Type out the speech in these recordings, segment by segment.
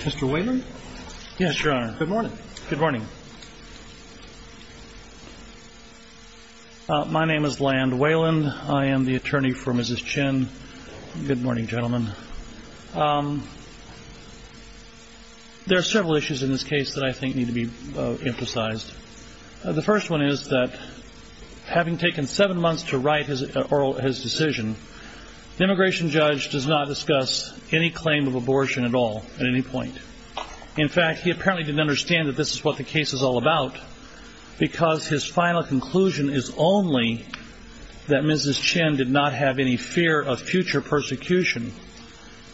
Mr. Wayland? Yes, Your Honor. Good morning. Good morning. My name is Land Wayland. I am the attorney for Mrs. Chin. Good morning, gentlemen. There are several issues in this case that I would like to emphasize. The first one is that, having taken seven months to write his decision, the immigration judge does not discuss any claim of abortion at all at any point. In fact, he apparently did not understand that this is what the case is all about because his final conclusion is only that Mrs. Chin did not have any fear of future persecution.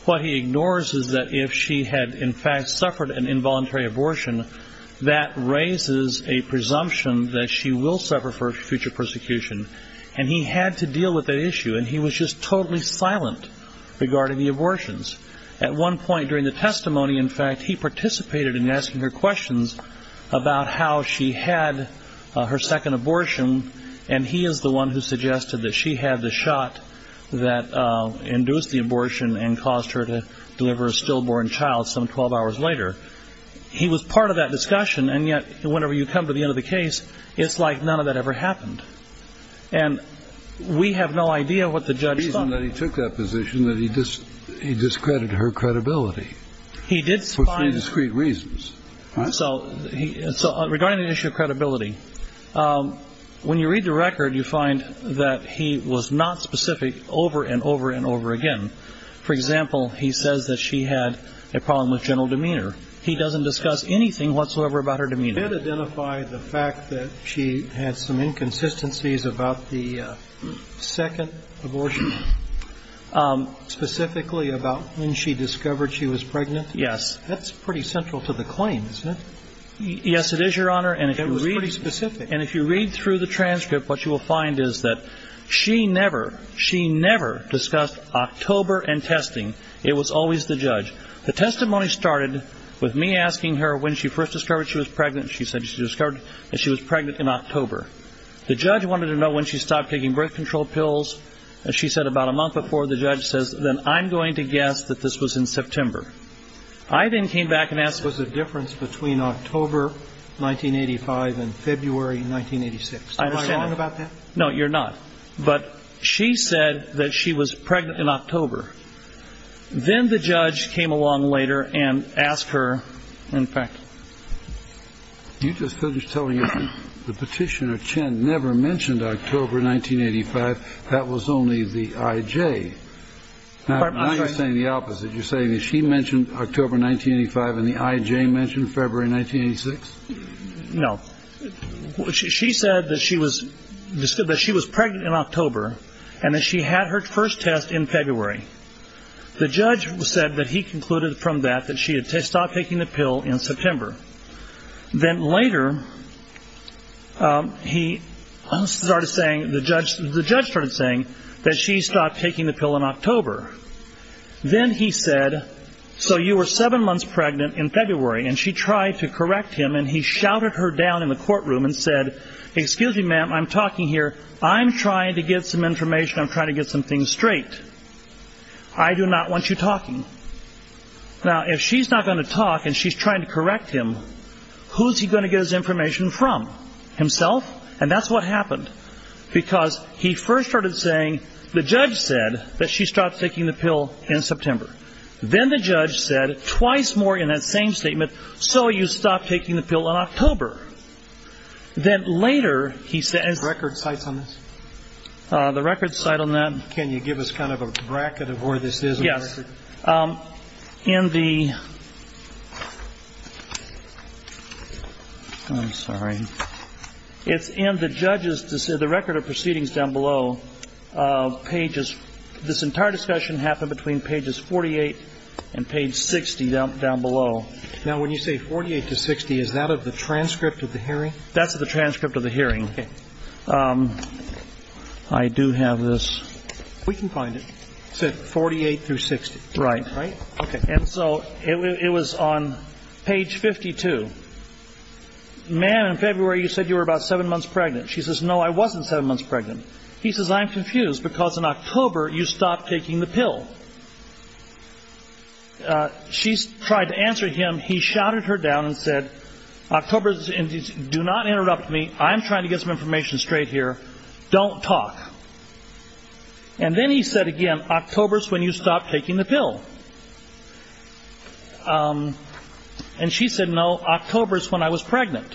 What he ignores is that if she had in fact suffered an involuntary abortion, that raises a presumption that she will suffer future persecution. He had to deal with that issue and he was just totally silent regarding the abortions. At one point during the testimony, in fact, he participated in asking her questions about how she had her second abortion and he is the one who suggested that she had the shot that induced the abortion and caused her to deliver a stillborn child some 12 hours later. He was part of that discussion and yet whenever you come to the end of the case, it's like none of that ever happened. And we have no idea what the judge thought. The reason that he took that position is that he discredited her credibility for three discrete reasons. So regarding the issue of credibility, when you read the record, you find that he was not specific over and over and over again. For example, he says that she had a problem with general demeanor. He doesn't discuss anything whatsoever about her demeanor. Did it identify the fact that she had some inconsistencies about the second abortion? Specifically about when she discovered she was pregnant? Yes. That's pretty central to the claim, isn't it? Yes, it is, Your Honor. And if you read through the transcript, what you will find is that she never, she never discussed October and testing. It was always the judge. The testimony started with me asking her when she first discovered she was pregnant. She said she discovered that she was pregnant in October. The judge wanted to know when she stopped taking birth control pills. And she said about a month before, the judge says, then I'm going to guess that this was in September. I then came back and asked... Was the difference between October 1985 and February 1986. Am I wrong about that? No, you're not. But she said that she was pregnant in October. Then the judge came along later and asked her, in fact... You just finished telling us the petitioner, Chen, never mentioned October 1985. That was only the IJ. Now you're saying the opposite. You're saying that she mentioned October 1985 and the IJ mentioned February 1986? No. She said that she was pregnant in October and that she had her first test in February. The judge said that he concluded from that that she had stopped taking the pill in September. Then later, he started saying, the judge started saying that she stopped taking the pill in October. Then he said, so you were seven months pregnant in February. And she tried to correct him and he shouted her down in the courtroom and said, excuse me, ma'am, I'm talking here. I'm trying to get some information. I'm trying to get some things straight. I do not want you talking. Now, if she's not going to talk and she's trying to correct him, who's he going to get his information from? Himself? And that's what happened. Because he first started saying, the judge said that she stopped taking the pill in September. Then the judge said twice more in that same statement, so you stopped taking the pill in October. Then later, he said. Do you have record sites on this? The record site on that? Can you give us kind of a bracket of where this is? Yes. In the, I'm sorry. It's in the judge's, the record of proceedings down below, pages, this entire discussion happened between pages 48 and page 60 down below. Now, when you say 48 to 60, is that of the transcript of the hearing? That's the transcript of the hearing. I do have this. We can find it. It said 48 through 60. Right. Right? Okay. And so it was on page 52. Ma'am, in February, you said you were about seven months pregnant. She says, no, I wasn't seven months pregnant. He says, I'm confused, because in October, you stopped taking the pill. She's tried to answer him. He shouted her down and said, October's, do not interrupt me. I'm trying to get some information straight here. Don't talk. And then he said again, October's when you stopped taking the pill. And she said, no, October's when I was pregnant.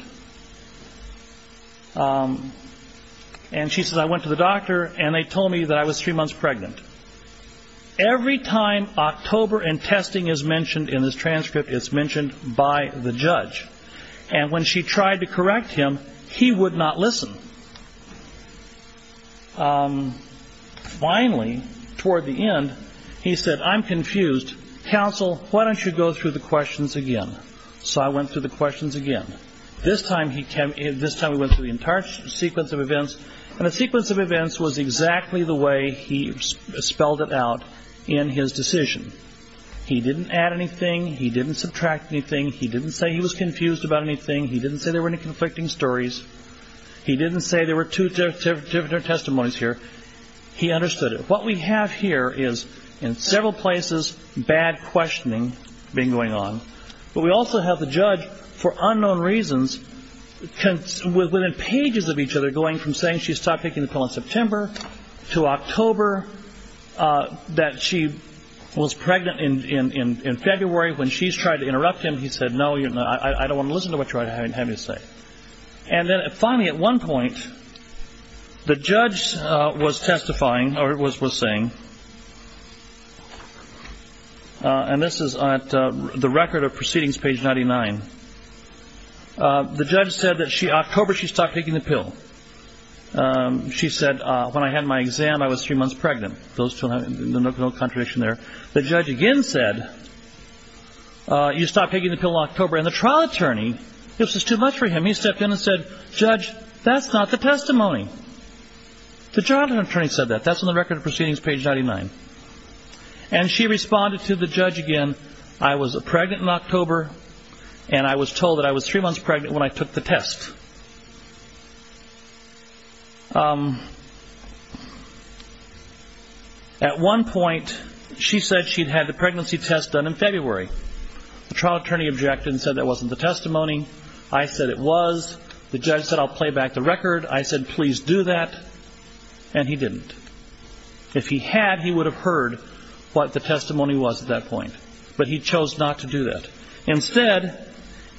And she said, I went to the hospital and I was three months pregnant. Every time October and testing is mentioned in this transcript, it's mentioned by the judge. And when she tried to correct him, he would not listen. Finally, toward the end, he said, I'm confused. Counsel, why don't you go through the questions again? So I went through the questions again. This time, we went through the entire sequence of events. And the sequence of events was exactly the way he spelled it out in his decision. He didn't add anything. He didn't subtract anything. He didn't say he was confused about anything. He didn't say there were any conflicting stories. He didn't say there were two different testimonies here. He understood it. What we have here is, in several places, bad questioning being going on. But we also have the judge, for unknown reasons, within pages of each other, going from saying she stopped taking the pill in September to October, that she was pregnant in February. When she's tried to interrupt him, he said, no, I don't want to listen to what you're having me say. And then finally, at one point, the judge was testifying, or was saying, and this is on the record of proceedings, page 99. The judge said that October, she stopped taking the pill. She said, when I had my exam, I was three months pregnant. There's no contradiction there. The judge again said, you stopped taking the pill in October. And the trial attorney, it was just too much for him. He stepped in and said, judge, that's not the testimony. The trial attorney said that. That's on the record of proceedings, page 99. And she responded to the judge again, I was pregnant in October, and I was told that I was three months pregnant when I took the test. At one point, she said she'd had the pregnancy test done in February. The trial attorney objected and said that wasn't the testimony. I said it was. The judge said I'll play back the record. I said, please do that. And he didn't. If he had, he would have heard what the testimony was at that point. But he chose not to do that. Instead,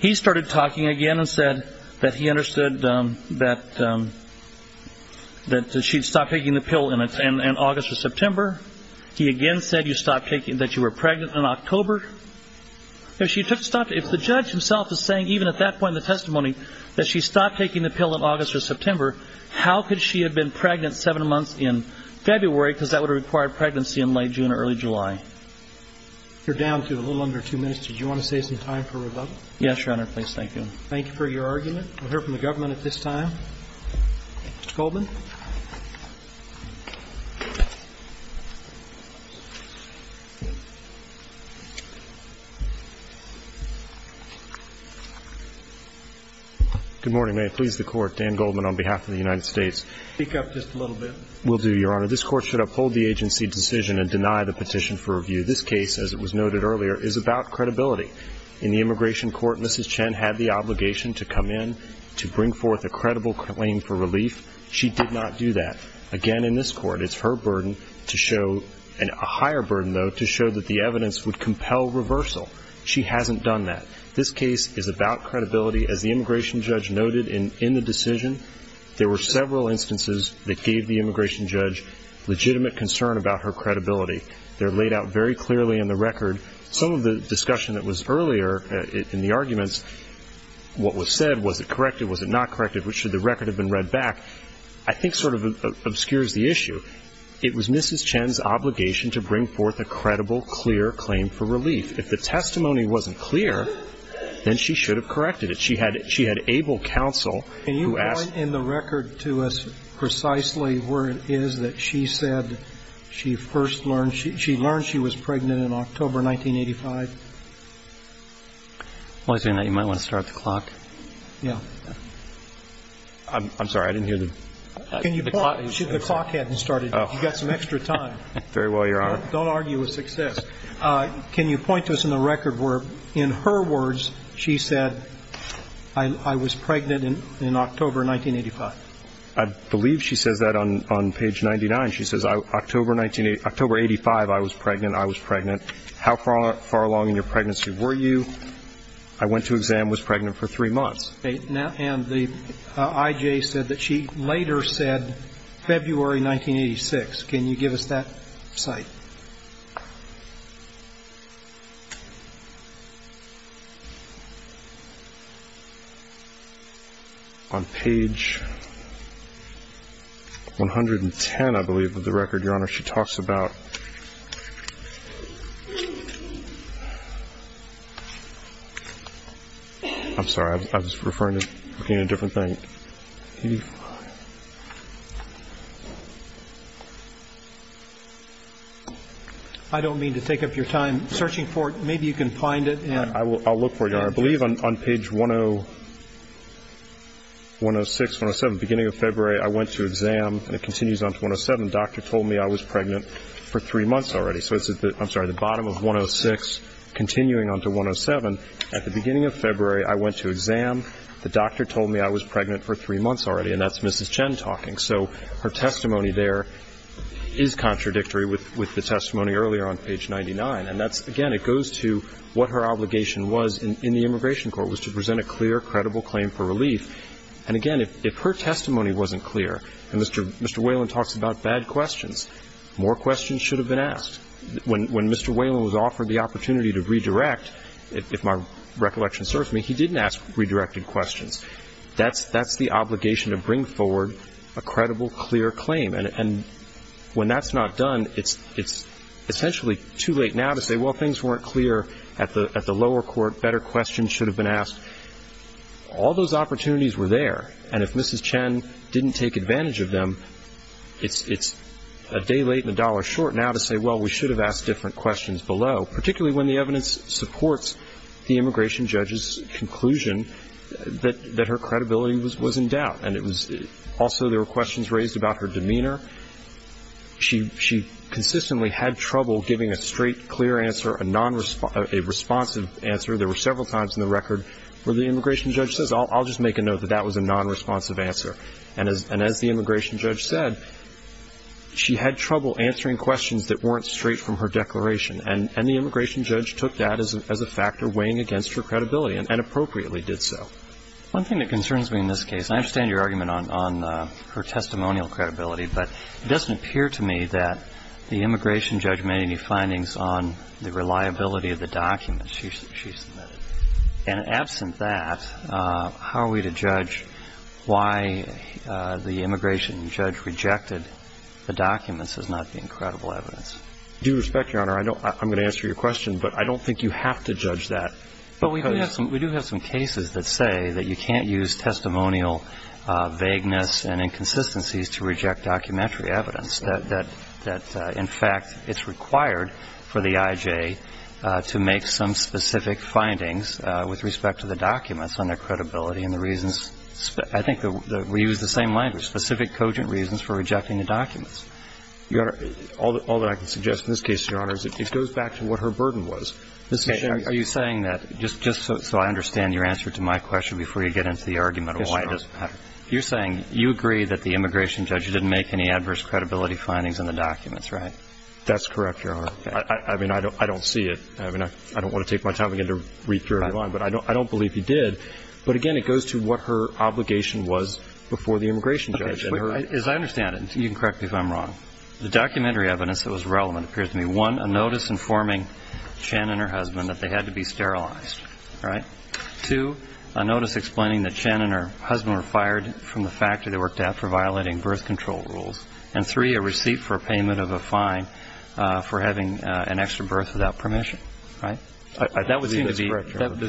he started talking again and said that he understood that she'd stopped taking the pill in August or September. He again said that you were pregnant in October. If the judge himself is saying, even at that point in the testimony, that she stopped taking the pill in August or September, how could she have been pregnant seven months in February? Because that would have required pregnancy in late June or early July. You're down to a little under two minutes. Did you want to save some time for rebuttal? Yes, Your Honor. Please. Thank you. Thank you for your argument. We'll hear from the government at this time. Mr. Goldman. Good morning. May it please the Court. Dan Goldman on behalf of the United States. Speak up just a little bit. I will do, Your Honor. This Court should uphold the agency decision and deny the petition for review. This case, as it was noted earlier, is about credibility. In the immigration court, Mrs. Chen had the obligation to come in to bring forth a credible claim for relief. She did not do that. Again, in this court, it's her burden to show, and a higher burden, though, to show that the evidence would compel reversal. She hasn't done that. This case is about credibility. As the immigration judge noted in the decision, there were several instances that gave the immigration judge legitimate concern about her credibility. They're laid out very clearly in the record. Some of the discussion that was earlier in the arguments, what was said, was it corrected, was it not corrected, should the record have been read back, I think sort of obscures the issue. It was Mrs. Chen's obligation to bring forth a credible, clear claim for relief. If the testimony wasn't clear, then she should have corrected it. She had able counsel who asked Can you point in the record to us precisely where it is that she said she first learned, she learned she was pregnant in October 1985? I was thinking that you might want to start the clock. Yeah. I'm sorry. I didn't hear the clock. The clock hadn't started. You've got some extra time. Very well, Your Honor. Don't argue with success. Can you point to us in the record where, in her words, she said, I was pregnant in October 1985? I believe she says that on page 99. She says October 1985, I was pregnant. I was pregnant. How far along in your pregnancy were you? I went to exam, was pregnant for three months. And the I.J. said that she later said February 1986. Can you give us that cite? On page 110, I believe, of the record, Your Honor, she talks about. I'm sorry. I was referring to looking at a different thing. 1985. I don't mean to take up your time searching for it. Maybe you can find it. I'll look for it, Your Honor. I believe on page 106, 107, beginning of February, I went to exam. And it continues on to 107. Doctor told me I was pregnant for three months already. So it's at the bottom of 106, continuing on to 107. At the beginning of February, I went to exam. The doctor told me I was pregnant for three months already. And that's Mrs. Whalen's testimony there is contradictory with the testimony earlier on page 99. And that's, again, it goes to what her obligation was in the immigration court was to present a clear, credible claim for relief. And again, if her testimony wasn't clear, and Mr. Whalen talks about bad questions, more questions should have been asked. When Mr. Whalen was offered the opportunity to redirect, if my recollection serves me, he didn't ask redirected questions. That's the obligation to bring forward a credible, clear claim. And when that's not done, it's essentially too late now to say, well, things weren't clear at the lower court, better questions should have been asked. All those opportunities were there. And if Mrs. Chen didn't take advantage of them, it's a day late and a dollar short now to say, well, we should have asked different questions below, particularly when the evidence supports the immigration judge's conclusion that her credibility was in doubt. And it was also there were questions raised about her demeanor. She consistently had trouble giving a straight, clear answer, a responsive answer. There were several times in the record where the immigration judge says, I'll just make a note that that was a nonresponsive answer. And as the immigration judge said, she had trouble answering questions that weren't straight from her declaration. And the immigration judge took that as a factor weighing against her credibility and appropriately did so. One thing that concerns me in this case, and I understand your argument on her testimonial credibility, but it doesn't appear to me that the immigration judge made any findings on the reliability of the documents she submitted. And absent that, how are we to judge why the immigration judge rejected the documents as not being credible evidence? Due respect, Your Honor, I'm going to answer your question, but I don't think you have to judge that. But we do have some cases that say that you can't use testimonial vagueness and inconsistencies to reject documentary evidence. That, in fact, it's required for the IJ to make some specific findings with respect to the documents on their credibility and the reasons. I think we use the same language, specific cogent reasons for rejecting the documents. All that I can suggest in this case, Your Honor, is it goes back to what her burden was. Okay. Are you saying that, just so I understand your answer to my question before you get into the argument of why it doesn't matter, you're saying you agree that the immigration judge didn't make any adverse credibility findings in the documents, right? That's correct, Your Honor. I mean, I don't see it. I mean, I don't want to take my time again to read through every line, but I don't believe he did. But again, it goes to what her obligation was before the immigration judge. As I understand it, you can correct me if I'm wrong, the documentary evidence that was relevant appears to be, one, a notice informing Chen and her husband that they had to be sterilized, right? Two, a notice explaining that Chen and her husband were fired from the factory they worked at for violating birth control rules. And three, a receipt for payment of a fine for having an extra birth without permission, right? That would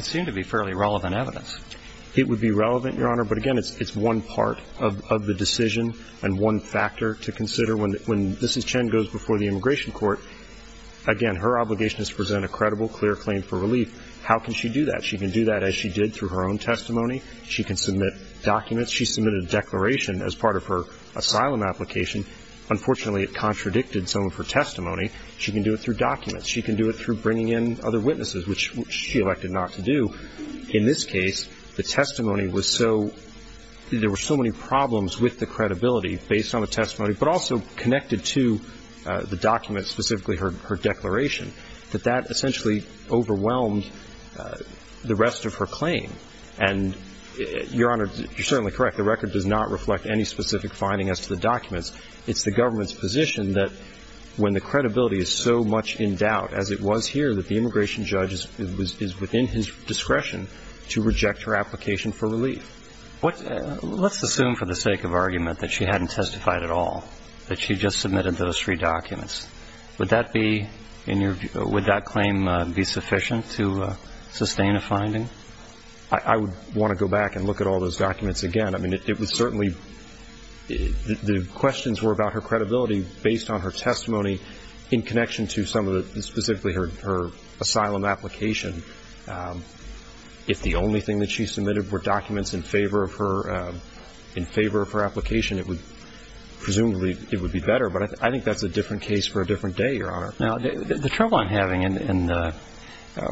seem to be fairly relevant evidence. It would be relevant, Your Honor. But again, it's one part of the decision and one factor to consider. When Mrs. Chen goes before the immigration court, again, her obligation is to present a credible, clear claim for relief. How can she do that? She can do that as she did through her own testimony. She can submit documents. She submitted a declaration as part of her asylum application. Unfortunately, it contradicted some of her testimony. She can do it through documents. She can do it through bringing in other witnesses, which she elected not to do. In this case, the testimony was so, there were so many problems with the credibility based on the testimony, but also connected to the documents, specifically her declaration, that that essentially overwhelmed the rest of her claim. And Your Honor, you're certainly correct. The record does not reflect any specific finding as to the documents. It's the government's position that when the credibility is so much in doubt, as it was here, that the immigration judge is within his discretion to reject her application for relief. Let's assume for the sake of argument that she hadn't testified at all, that she just submitted those three documents. Would that claim be sufficient to sustain a finding? I would want to go back and look at all those documents again. I mean, it was certainly the questions were about her credibility based on her testimony in connection to some of her asylum application. If the only thing that she submitted were documents in favor of her, in favor of her application, it would, presumably, it would be better. But I think that's a different case for a different day, Your Honor. Now, the trouble I'm having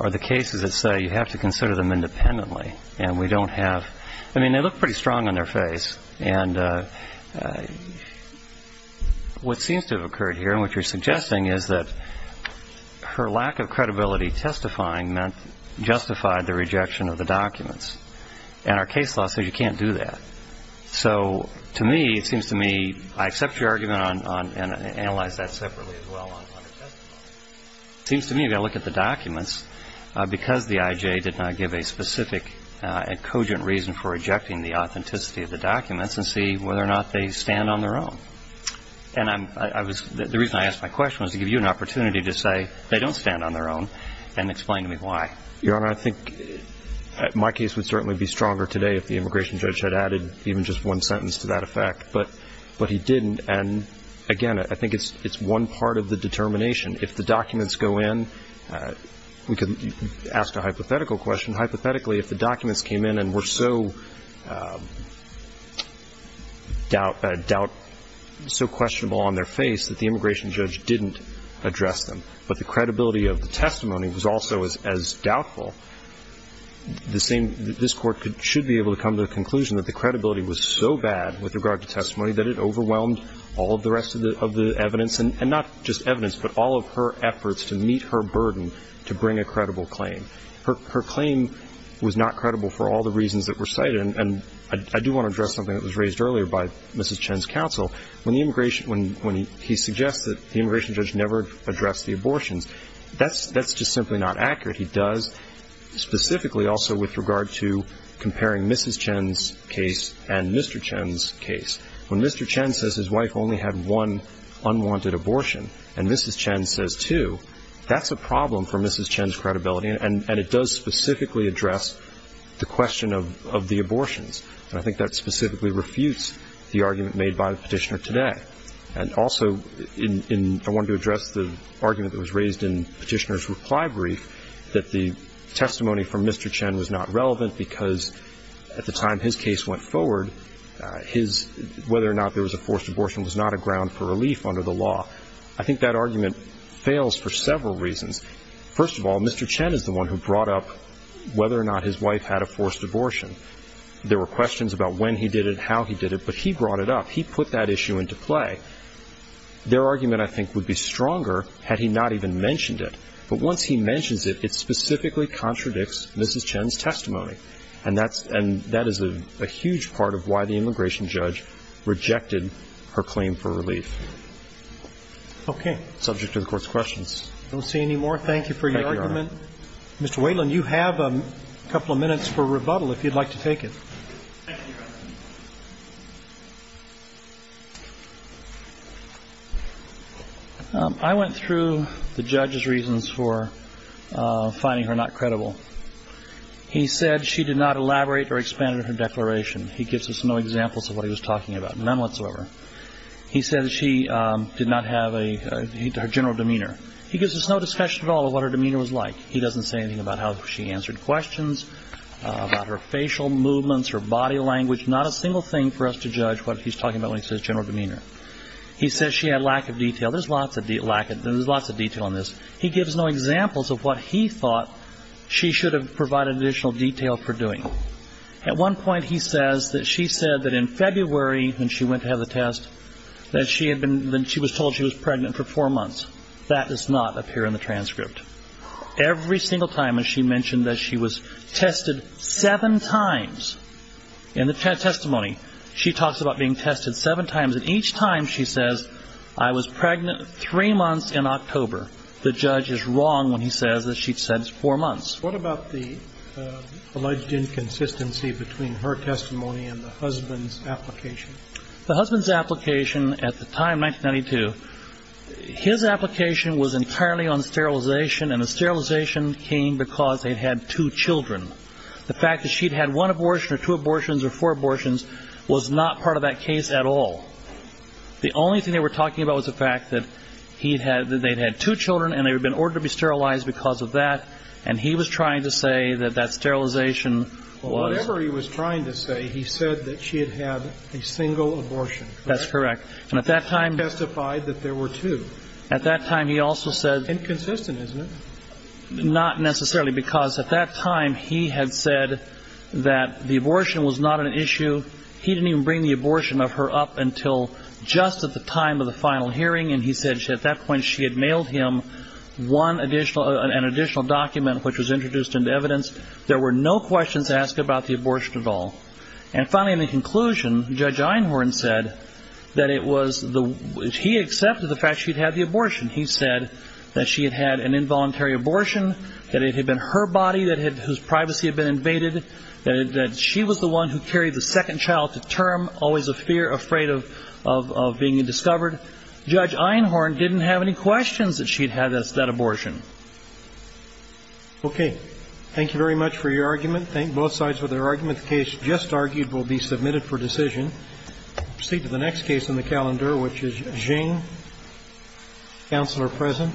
are the cases that say you have to consider them independently, and we don't have, I mean, they look pretty strong on their face. And what seems to have a lack of credibility testifying meant justified the rejection of the documents. And our case law says you can't do that. So to me, it seems to me, I accept your argument on, and I analyze that separately as well, on her testimony. It seems to me, if I look at the documents, because the IJ did not give a specific and cogent reason for rejecting the authenticity of the documents and see whether or not they stand on their own. And I'm, I was, the reason I asked my question was to give you an opportunity to say they don't stand on their own and explain to me why. Your Honor, I think my case would certainly be stronger today if the immigration judge had added even just one sentence to that effect. But he didn't. And again, I think it's one part of the determination. If the documents go in, we could ask a hypothetical question. Hypothetically, if the documents came in and were so doubt, doubt, so questionable on their face that the immigration judge didn't address them, but the credibility of the testimony was also as doubtful, the same, this Court should be able to come to the conclusion that the credibility was so bad with regard to testimony that it overwhelmed all of the rest of the evidence, and not just evidence, but all of her efforts to meet her burden to bring a credible claim. Her claim was not credible for all the reasons that were cited. And I do want to address something that was raised earlier by Mrs. Chen's counsel. When he suggests that the immigration judge never addressed the abortions, that's just simply not accurate. He does specifically also with regard to comparing Mrs. Chen's case and Mr. Chen's case. When Mr. Chen says his wife only had one unwanted abortion, and Mrs. Chen says two, that's a problem for Mrs. Chen's credibility, and it does specifically address the question of the abortions. And I think that specifically refutes the argument made by the Petitioner today. And also, I wanted to address the argument that was raised in Petitioner's reply brief, that the testimony from Mr. Chen was not relevant because at the time his case went forward, whether or not there was a forced abortion was not a ground for relief under the law. I think that argument fails for several reasons. First of all, Mr. Chen is the one who brought up whether or not his wife had a forced abortion. There were questions about when he did it, how he did it, but he brought it up. He put that issue into play. Their argument, I think, would be stronger had he not even mentioned it. But once he mentions it, it specifically contradicts Mrs. Chen's testimony. And that's – and that is a huge part of why the immigration judge rejected her claim for relief. Okay. Subject to the Court's questions. Thank you, Your Honor. Mr. Whelan, you have a couple of minutes for rebuttal, if you'd like to take it. Thank you, Your Honor. I went through the judge's reasons for finding her not credible. He said she did not elaborate or expand on her declaration. He gives us no examples of what he was talking about, none whatsoever. He said that she did not have a – her general demeanor. He gives us no discussion at all of what her demeanor was like. He doesn't say anything about how she answered questions, about her facial movements, her body language, not a single thing for us to judge what he's talking about when he says general demeanor. He says she had lack of detail. There's lots of detail on this. He gives no examples of what he thought she should have provided additional detail for doing. At one point he says that she said that in February, when she went to have the test, that she had been she was told she was pregnant for four months. That does not appear in the transcript. Every single time that she mentioned that she was tested seven times in the testimony, she talks about being tested seven times, and each time she says, I was pregnant three months in October. The judge is wrong when he says that she said it's four months. What about the alleged inconsistency between her testimony and the husband's application? The husband's application at the time, 1992, his application was entirely on sterilization, and the sterilization came because they'd had two children. The fact that she'd had one abortion or two abortions or four abortions was not part of that case at all. The only thing they were talking about was the fact that he'd had, that they'd had two children and they'd been ordered to be sterilized because of that, and he was trying to say that that sterilization was Whatever he was trying to say, he said that she had had a single abortion. That's correct. And at that time He testified that there were two. At that time, he also said Inconsistent, isn't it? Not necessarily, because at that time, he had said that the abortion was not an issue. He didn't even bring the abortion of her up until just at the time of the final hearing, and he said at that point she had mailed him one additional, an additional document which was introduced into evidence. There were no questions asked about the abortion at all. And finally, in the conclusion, Judge Einhorn said that it was the, he accepted the fact she'd had the abortion. He said that she had had an involuntary abortion, that it had been her body that had, whose privacy had been invaded, that she was the one who carried the second child to term, always afraid of being discovered. Judge Einhorn didn't have any questions that she'd had as to that abortion. Okay. Thank you very much for your argument. Thank both sides for their argument. The case just argued will be submitted for decision. We'll proceed to the next case in the calendar, which is Xing. Counselor present.